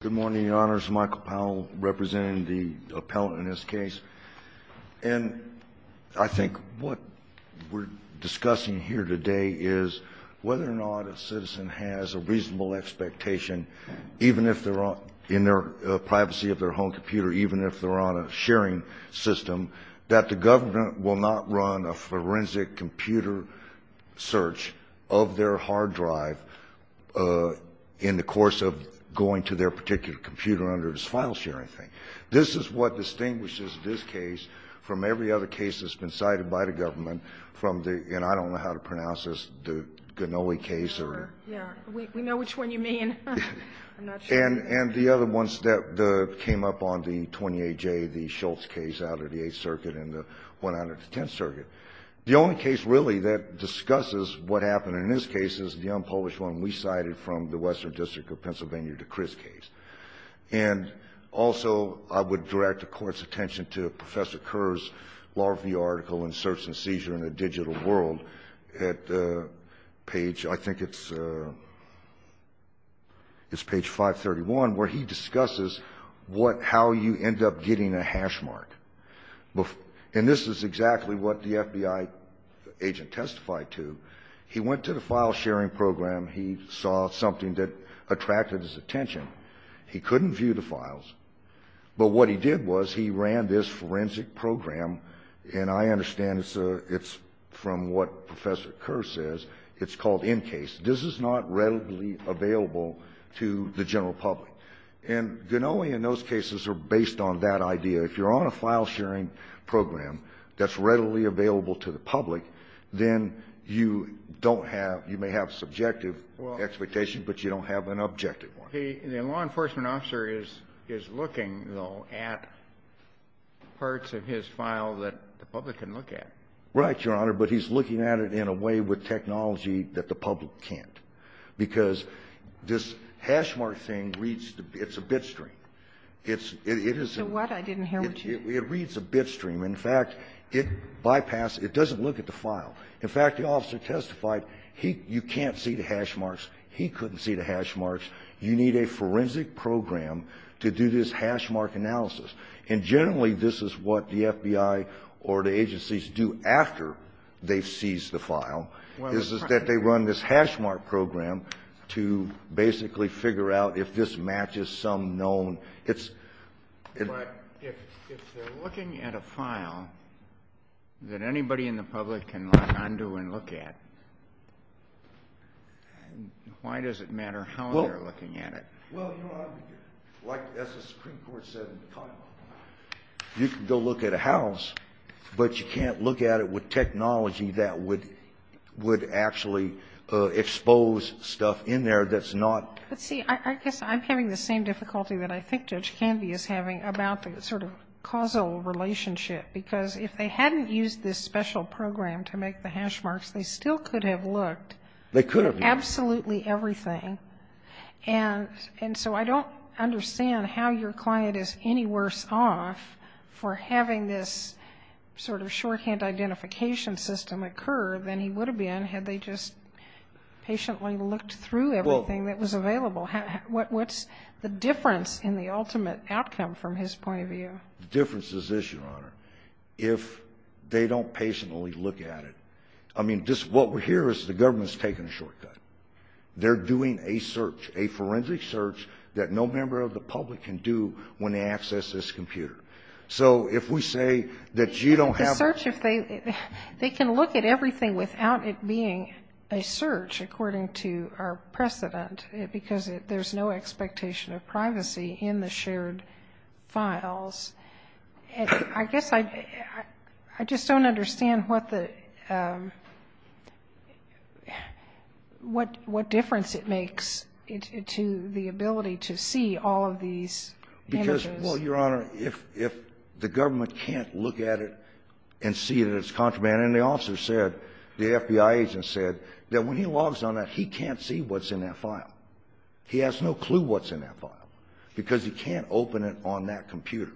Good morning, your honors. Michael Powell representing the appellant in this case. And I think what we're discussing here today is whether or not a citizen has a reasonable expectation, even if they're on in their privacy of their home computer, even if they're on a sharing system, that the government will not run a forensic computer search of their hard drive in the course of going to their particular computer under this file sharing thing. This is what distinguishes this case from every other case that's been cited by the government from the — and I don't know how to pronounce this — the Ganoli case or — Yeah. We know which one you mean. I'm not sure. And the other ones that came up on the 28J, the Schultz case out of the Eighth Circuit and the One Hundred and Tenth Circuit. The only case really that discusses what happened in this case is the unpublished one we cited from the Western District of Pennsylvania, the Criss case. And also, I would direct the Court's attention to Professor Kerr's law review article in Search and Seizure in a Digital World at page — I think it's page 531, where he discusses what — how you end up getting a hash mark. And this is exactly what the FBI agent testified to. He went to the file sharing program. He saw something that attracted his attention. He couldn't view the files. But what he did was he ran this forensic program. And I understand it's from what Professor Kerr says. It's called NCASE. This is not readily available to the general public. And Ganoli and those cases are based on that idea. If you're on a file sharing program that's readily available to the public, then you don't have — you may have subjective expectations, but you don't have an objective one. Well, the law enforcement officer is looking, though, at parts of his file that the public can look at. Right, Your Honor. But he's looking at it in a way with technology that the public can't, because this hash mark thing reads — it's a bit stream. It's — it is — What? I didn't hear what you — It reads a bit stream. In fact, it bypasses — it doesn't look at the file. In fact, the officer testified he — you can't see the hash marks. He couldn't see the hash marks. You need a forensic program to do this hash mark analysis. And generally, this is what the FBI or the agencies do after they've seized the file, is that they run this hash mark program to basically figure out if this matches some known — it's — But if they're looking at a file that anybody in the public can look under and look at, why does it matter how they're looking at it? Well, Your Honor, like the Supreme Court said in the title, you can go look at a house, but you can't look at it with technology that would — would actually expose stuff in there that's not — But see, I guess I'm having the same difficulty that I think Judge Canvey is having about the sort of causal relationship, because if they hadn't used this special program to make the hash marks, they still could have looked — They could have, yes. Absolutely everything. And so I don't understand how your client is any worse off for having this sort of shorthand identification system occur than he would have been had they just patiently looked through everything that was available. What's the difference in the ultimate outcome from his point of view? The difference is this, Your Honor. If they don't patiently look at it — I mean, just what we hear is the government's taking a shortcut. They're doing a search, a forensic search that no member of the public can do when they access this computer. So if we say that you don't have — The search, if they — they can look at everything without it being a search, according to our precedent, because there's no expectation of privacy in the shared files, I guess I just don't understand what the — what difference it makes to the ability to see all of these images. Well, Your Honor, if the government can't look at it and see that it's contraband and the officer said — the FBI agent said that when he logs on that, he can't see what's in that file. He has no clue what's in that file because he can't open it on that computer.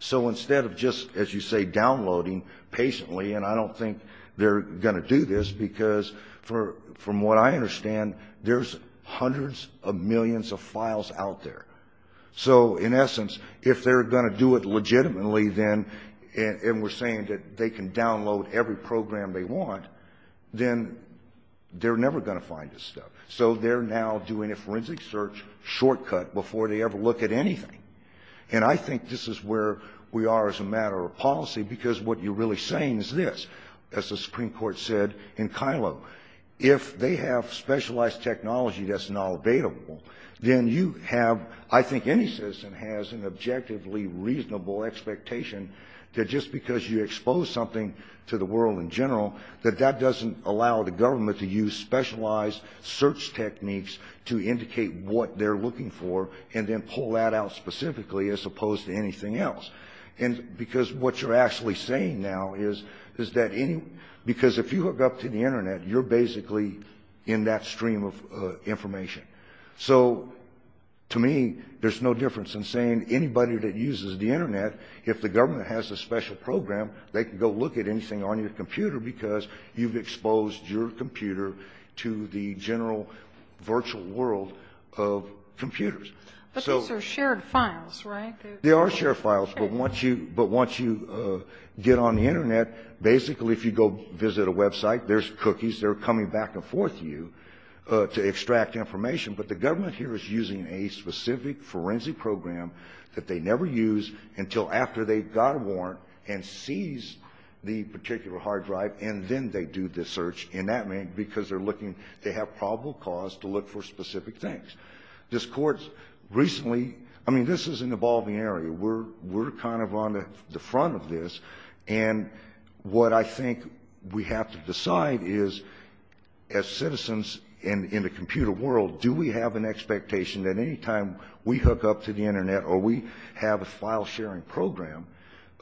So instead of just, as you say, downloading patiently — and I don't think they're going to do this because, from what I understand, there's hundreds of millions of files out there. So, in essence, if they're going to do it legitimately, then — and we're saying that they can download every program they want — then they're never going to find this stuff. So they're now doing a forensic search shortcut before they ever look at anything. And I think this is where we are as a matter of policy, because what you're really saying is this, as the Supreme Court said in Kylo, if they have specialized technology that's not available, then you have — I think any citizen has an objectively reasonable expectation that just because you expose something to the world in general, that that doesn't allow the government to use specialized search techniques to indicate what they're looking for and then pull that out specifically as opposed to anything else. And because what you're actually saying now is that — because if you hook up to So, to me, there's no difference in saying anybody that uses the Internet, if the government has a special program, they can go look at anything on your computer because you've exposed your computer to the general virtual world of computers. But those are shared files, right? They are shared files, but once you — but once you get on the Internet, basically if you go visit a website, there's cookies that are coming back and forth to you to But the government here is using a specific forensic program that they never use until after they've got a warrant and seize the particular hard drive, and then they do the search in that — because they're looking — they have probable cause to look for specific things. This Court's recently — I mean, this is an evolving area. We're kind of on the front of this, and what I think we have to decide is, as citizens in the computer world, do we have an expectation that any time we hook up to the Internet or we have a file-sharing program,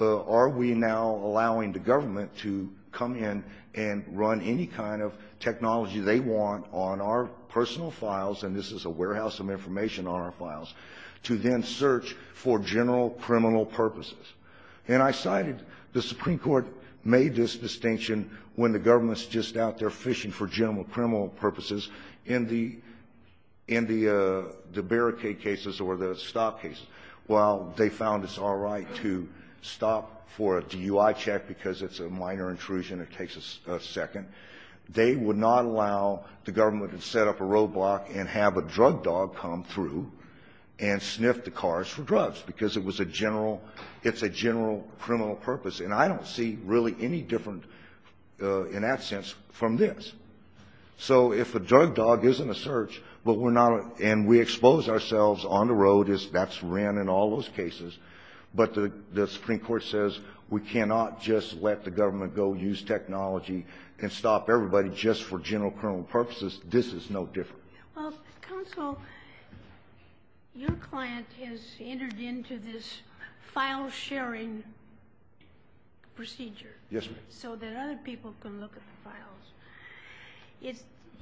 are we now allowing the government to come in and run any kind of technology they want on our personal files — and this is a warehouse of information on our files — to then search for general criminal purposes? And I cited — the Supreme Court made this distinction when the government's just out there fishing for general criminal purposes in the — in the — the barricade cases or the stop cases. While they found it's all right to stop for a DUI check because it's a minor intrusion that takes a second, they would not allow the government to set up a roadblock and have a drug dog come through and sniff the cars for drugs because it was a general — it's a general criminal purpose. And I don't see really any different, in that sense, from this. So if a drug dog isn't a search, but we're not — and we expose ourselves on the road as that's ran in all those cases, but the Supreme Court says we cannot just let the government go use technology and stop everybody just for general criminal purposes, this is no different. Well, counsel, your client has entered into this file-sharing procedure so that other people can look at the files.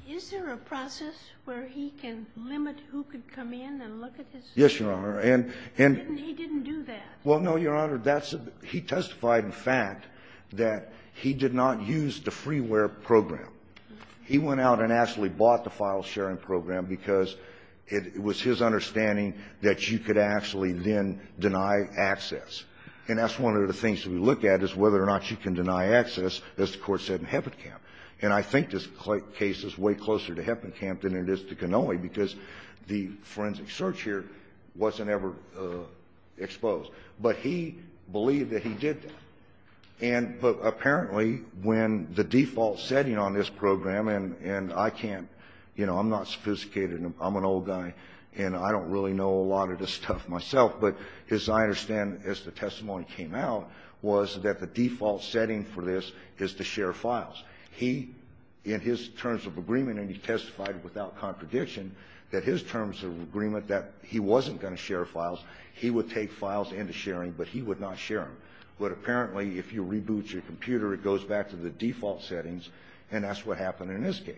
Is there a process where he can limit who can come in and look at his files? Yes, Your Honor. And — And he didn't do that? Well, no, Your Honor. That's — he testified in fact that he did not use the freeware program. He went out and actually bought the file-sharing program because it was his understanding that you could actually then deny access. And that's one of the things that we look at is whether or not you can deny access, as the Court said in Heppenkamp. And I think this case is way closer to Heppenkamp than it is to Kenoe because the forensic search here wasn't ever exposed. But he believed that he did that. And apparently when the default setting on this program, and I can't — you know, I'm not sophisticated. I'm an old guy, and I don't really know a lot of this stuff myself. But as I understand, as the testimony came out, was that the default setting for this is to share files. He, in his terms of agreement, and he testified without contradiction that his terms of agreement that he wasn't going to share files, he would take files into sharing, but he would not share them. But apparently if you reboot your computer, it goes back to the default settings, and that's what happened in this case.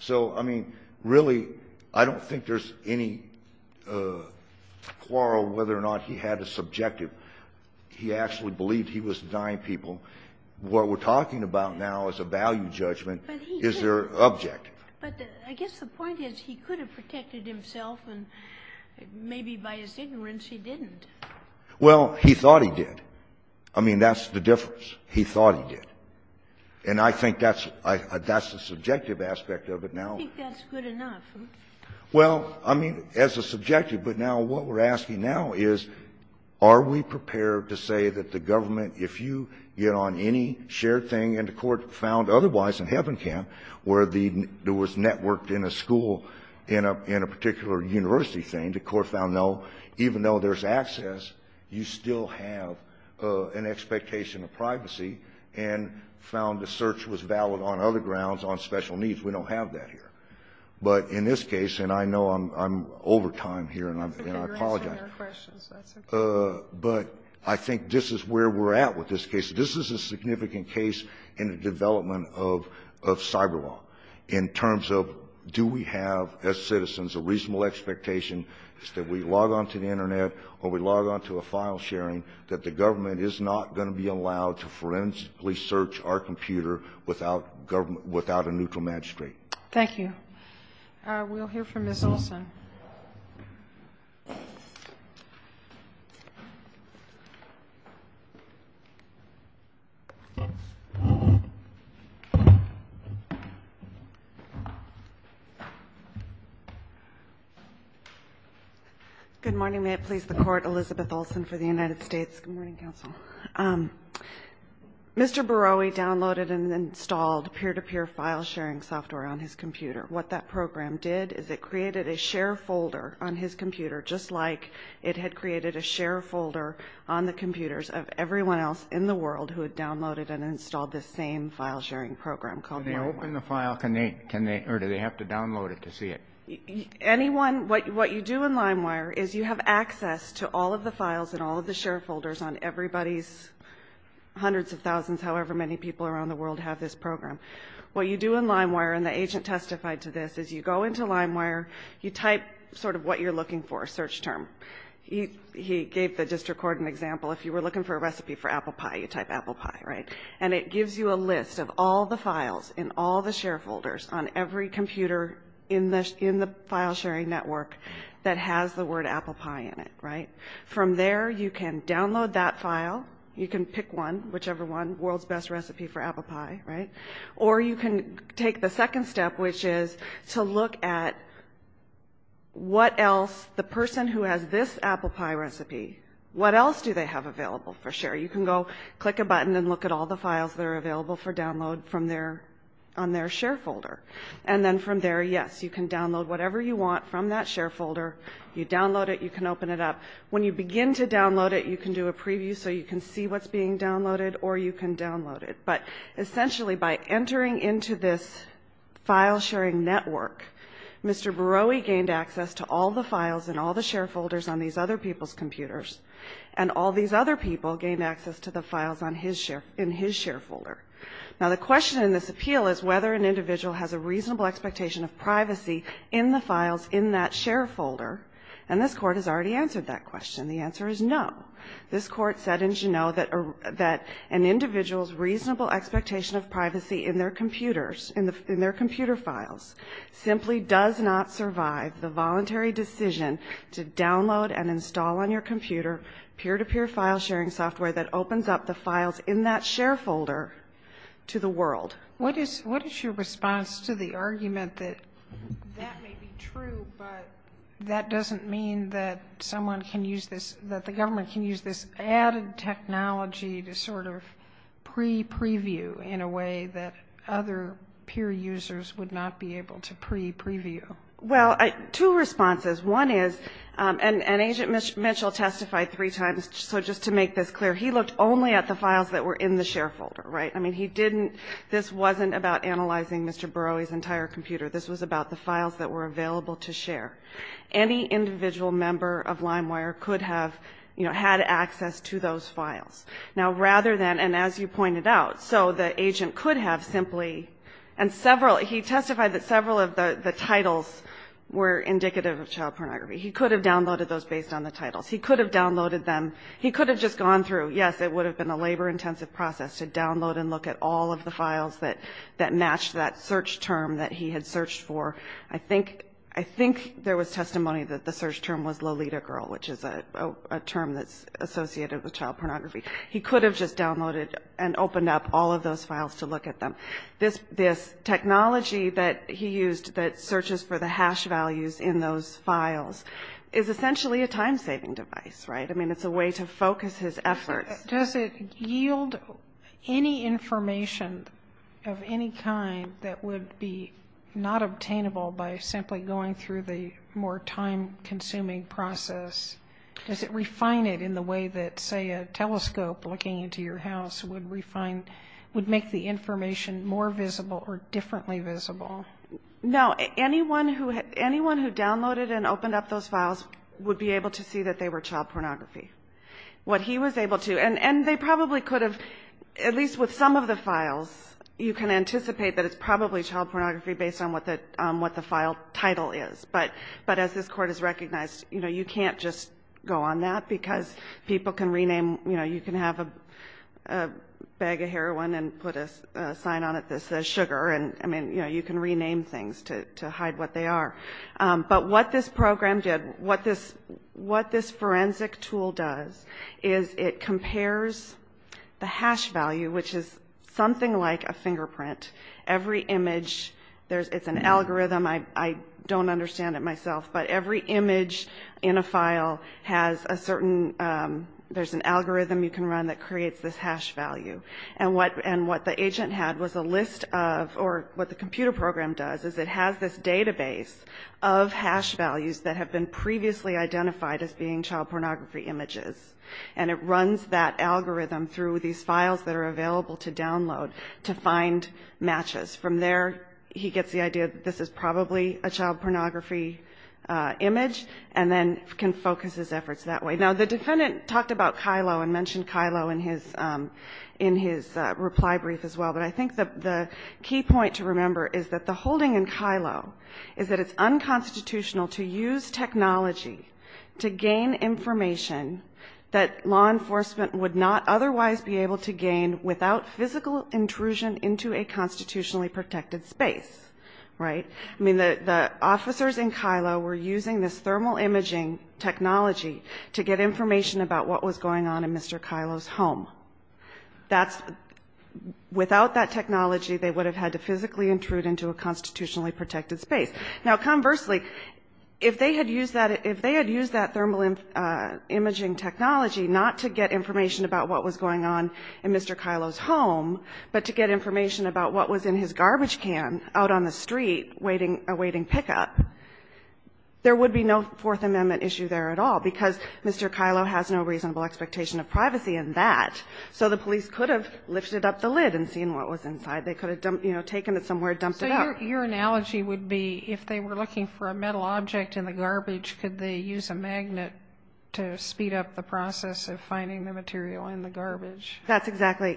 So, I mean, really, I don't think there's any quarrel whether or not he had a subjective — he actually believed he was denying people what we're talking about now as a value judgment. Is there an objective? But I guess the point is he could have protected himself, and maybe by his ignorance he didn't. Well, he thought he did. I mean, that's the difference. He thought he did. And I think that's the subjective aspect of it now. I think that's good enough. Well, I mean, as a subjective, but now what we're asking now is are we prepared to say that the government, if you get on any shared thing, and the Court found otherwise in Heavencamp where there was networked in a school, in a particular university thing, the Court found no, even though there's access, you still have an expectation of privacy, and found the search was valid on other grounds, on special needs. We don't have that here. But in this case, and I know I'm over time here, and I apologize, but I think this is where we're at with this case. This is a significant case in the development of cyber law in terms of do we have, as I said, an expectation, is that we log on to the Internet or we log on to a file sharing that the government is not going to be allowed to forensically search our computer without a neutral magistrate. Thank you. We'll hear from Ms. Olson. Good morning. May it please the Court. Elizabeth Olson for the United States. Good morning, counsel. Mr. Borowi downloaded and installed peer-to-peer file sharing software on his computer. What that program did is it created a share folder on his computer, just like it had created a share folder on the computers of everyone else in the world who had downloaded and installed this same file sharing program called LimeWire. Can they open the file? Can they, or do they have to download it to see it? Anyone, what you do in LimeWire is you have access to all of the files and all of the share folders on everybody's hundreds of thousands, however many people around the world have this program. What you do in LimeWire, and the agent testified to this, is you go into LimeWire, you type sort of what you're looking for, a search term. He gave the district court an example. If you were looking for a recipe for apple pie, you type apple pie, right? And it gives you a list of all the files in all the share folders on every computer in the file sharing network that has the word apple pie in it, right? From there, you can download that file, you can pick one, whichever one, world's best recipe for apple pie, right? Or you can take the second step, which is to look at what else the person who has this apple pie recipe, what else do they have available for share? You can go click a button and look at all the files that are available for download from their, on their share folder. And then from there, yes, you can download whatever you want from that share folder. You download it, you can open it up. When you begin to download it, you can do a preview so you can see what's being downloaded or you can download it. But essentially, by entering into this file sharing network, Mr. Berowi gained access to all the files in all the share folders on these other people's computers, and all these other people gained access to the files on his share, in his share folder. Now, the question in this appeal is whether an individual has a reasonable expectation of privacy in the files in that share folder, and this Court has already answered that question. The answer is no. This Court said in Juneau that an individual's reasonable expectation of privacy in their computers, in their computer files, simply does not survive the voluntary decision to download and install on your computer peer-to-peer file sharing software that opens up the files in that share folder to the world. What is your response to the argument that that may be true, but that doesn't mean that someone can use this, that the government can use this added technology to sort of pre-preview in a way that other peer users would not be able to pre-preview? Well, two responses. One is, and Agent Mitchell testified three times, so just to make this clear, he looked only at the files that were in the share folder, right? I mean, he didn't, this wasn't about analyzing Mr. Berowi's entire computer. This was about the files that were available to share. Any individual member of LimeWire could have, you know, had access to those files. Now, rather than, and as you pointed out, so the agent could have simply, and several, he testified that several of the titles were indicative of child pornography. He could have downloaded those based on the titles. He could have downloaded them. He could have just gone through. Yes, it would have been a labor-intensive process to download and look at all of the files that matched that search term that he had searched for. I think there was testimony that the search term was Lolita Girl, which is a term that's associated with child pornography. He could have just downloaded and opened up all of those files to look at them. This technology that he used that searches for the hash values in those files is essentially a time-saving device, right? I mean, it's a way to focus his efforts. Does it yield any information of any kind that would be not obtainable by simply going through the more time-consuming process? Does it refine it in the way that, say, a telescope looking into your house would refine, would make the information more visible or differently visible? No. Anyone who downloaded and opened up those files would be able to see that they were child pornography. What he was able to, and they probably could have, at least with some of the files, you can anticipate that it's probably child pornography based on what the file title is. But as this Court has recognized, you know, you can't just go on that because people can rename, you know, you can have a bag of heroin and put a sign on it that says sugar. And, I mean, you know, you can rename things to hide what they are. But what this program did, what this forensic tool does is it compares the hash value, which is something like a fingerprint. Every image, it's an algorithm, I don't understand it myself, but every image in a file has a certain, there's an algorithm you can run that creates this hash value. And what the agent had was a list of, or what the computer program does is it has this database of hash values that have been previously identified as being child pornography images. And it runs that algorithm through these files that are available to download to find matches. From there, he gets the idea that this is probably a child pornography image and then can focus his efforts that way. Now, the defendant talked about Kylo and mentioned Kylo in his reply brief as well. But I think the key point to remember is that the holding in Kylo is that it's unconstitutional to use technology to gain information that law enforcement would not otherwise be able to gain without physical intrusion into a constitutionally protected space, right? I mean, the officers in Kylo were using this thermal imaging technology to get information about what was going on in Mr. Kylo's home. That's, without that technology, they would have had to physically intrude into a constitutionally protected space. Now, conversely, if they had used that, if they had used that thermal imaging technology not to get information about what was going on in Mr. Kylo's home, but to get information about what was in his garbage can out on the street awaiting pickup, there would be no Fourth Amendment issue there at all because Mr. Kylo has no reasonable expectation of privacy in that. So the police could have lifted up the lid and seen what was inside. They could have, you know, taken it somewhere and dumped it out. Your analogy would be if they were looking for a metal object in the garbage, could they use a magnet to speed up the process of finding the material in the garbage? That's exactly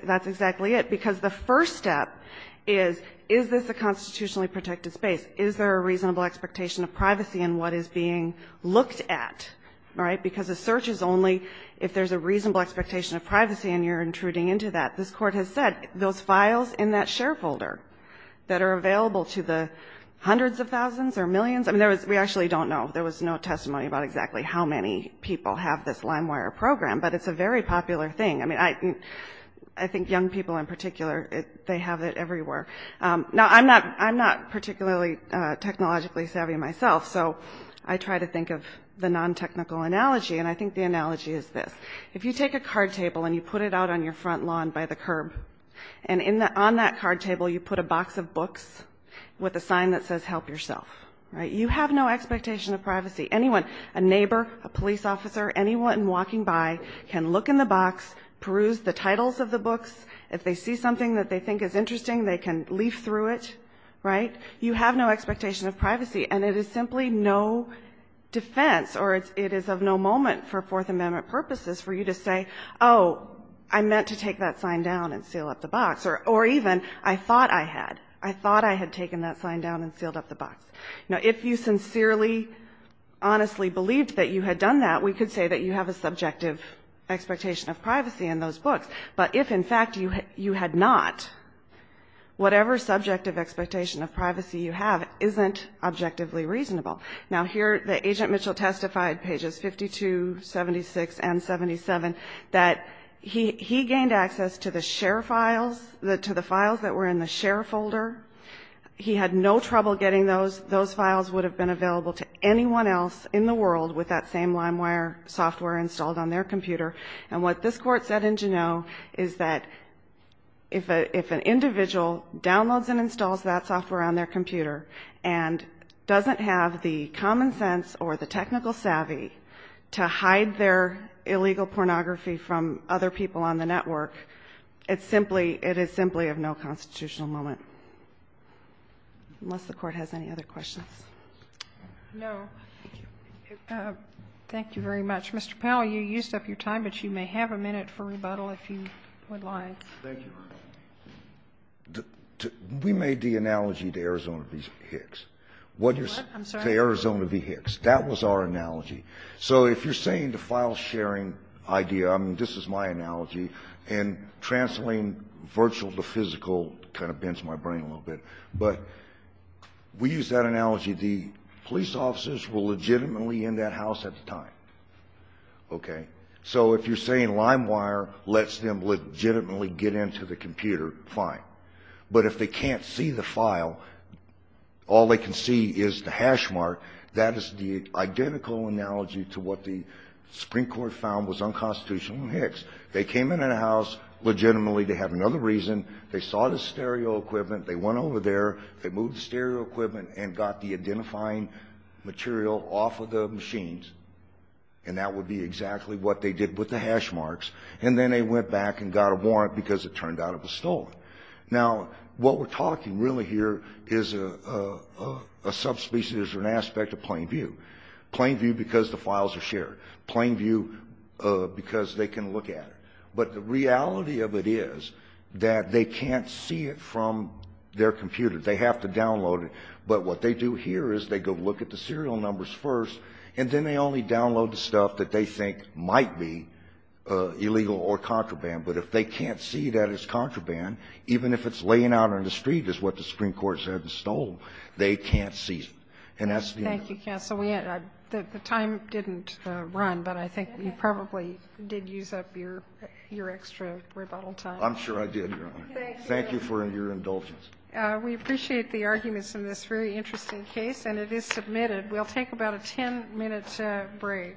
it because the first step is, is this a constitutionally protected space? Is there a reasonable expectation of privacy in what is being looked at, right? Because a search is only if there's a reasonable expectation of privacy and you're intruding into that. This Court has said those files in that share folder that are available to the hundreds of thousands or millions. I mean, there was, we actually don't know. There was no testimony about exactly how many people have this LimeWire program, but it's a very popular thing. I mean, I think young people in particular, they have it everywhere. Now, I'm not, I'm not particularly technologically savvy myself. So I try to think of the non-technical analogy. And I think the analogy is this. If you take a card table and you put it out on your front lawn by the curb and on that card table, you put a box of books with a sign that says, help yourself, right? You have no expectation of privacy. Anyone, a neighbor, a police officer, anyone walking by can look in the box, peruse the titles of the books. If they see something that they think is interesting, they can leaf through it, right? You have no expectation of privacy and it is simply no defense or it is of no moment for Fourth Amendment purposes for you to say, oh, I meant to take that sign down and seal up the box. Or even, I thought I had, I thought I had taken that sign down and sealed up the box. Now, if you sincerely, honestly believed that you had done that, we could say that you have a subjective expectation of privacy in those books. But if in fact you had not, whatever subjective expectation of privacy you have isn't objectively reasonable. Now, here, the Agent Mitchell testified, pages 52, 76, and 77, that he gained access to the share files, to the files that were in the share folder. He had no trouble getting those. Those files would have been available to anyone else in the world with that same LimeWire software installed on their computer. And what this Court said in Juneau is that if an individual downloads and installs that software on their computer and doesn't have the common sense or the technical savvy to hide their illegal pornography from other people on the network, it's simply, it is simply of no constitutional moment. Unless the Court has any other questions. No. Thank you very much. Mr. Powell, you used up your time, but you may have a minute for rebuttal if you would like. Thank you. We made the analogy to Arizona v. Hicks. What you're saying to Arizona v. Hicks. That was our analogy. So if you're saying the file sharing idea, I mean, this is my analogy. And translating virtual to physical kind of bends my brain a little bit. But we use that analogy. The police officers were legitimately in that house at the time, okay? So if you're saying LimeWire lets them legitimately get into the computer, fine. But if they can't see the file, all they can see is the hash mark, that is the identical analogy to what the Supreme Court found was unconstitutional in Hicks. They came in that house legitimately to have another reason. They saw the stereo equipment. They went over there. They moved the stereo equipment and got the identifying material off of the machines. And that would be exactly what they did with the hash marks. And then they went back and got a warrant because it turned out it was stolen. Now, what we're talking really here is a subspecies or an aspect of plain view. Plain view because the files are shared. Plain view because they can look at it. But the reality of it is that they can't see it from their computer. They have to download it. But what they do here is they go look at the serial numbers first. And then they only download the stuff that they think might be illegal or contraband. But if they can't see that it's contraband, even if it's laying out on the street is what the Supreme Court said was stolen, they can't see it. And that's the only one. Sotomayor, the time didn't run, but I think you probably did use up your extra rebuttal time. I'm sure I did, Your Honor. Thank you for your indulgence. We appreciate the arguments in this very interesting case. And it is submitted. We'll take about a 10-minute break.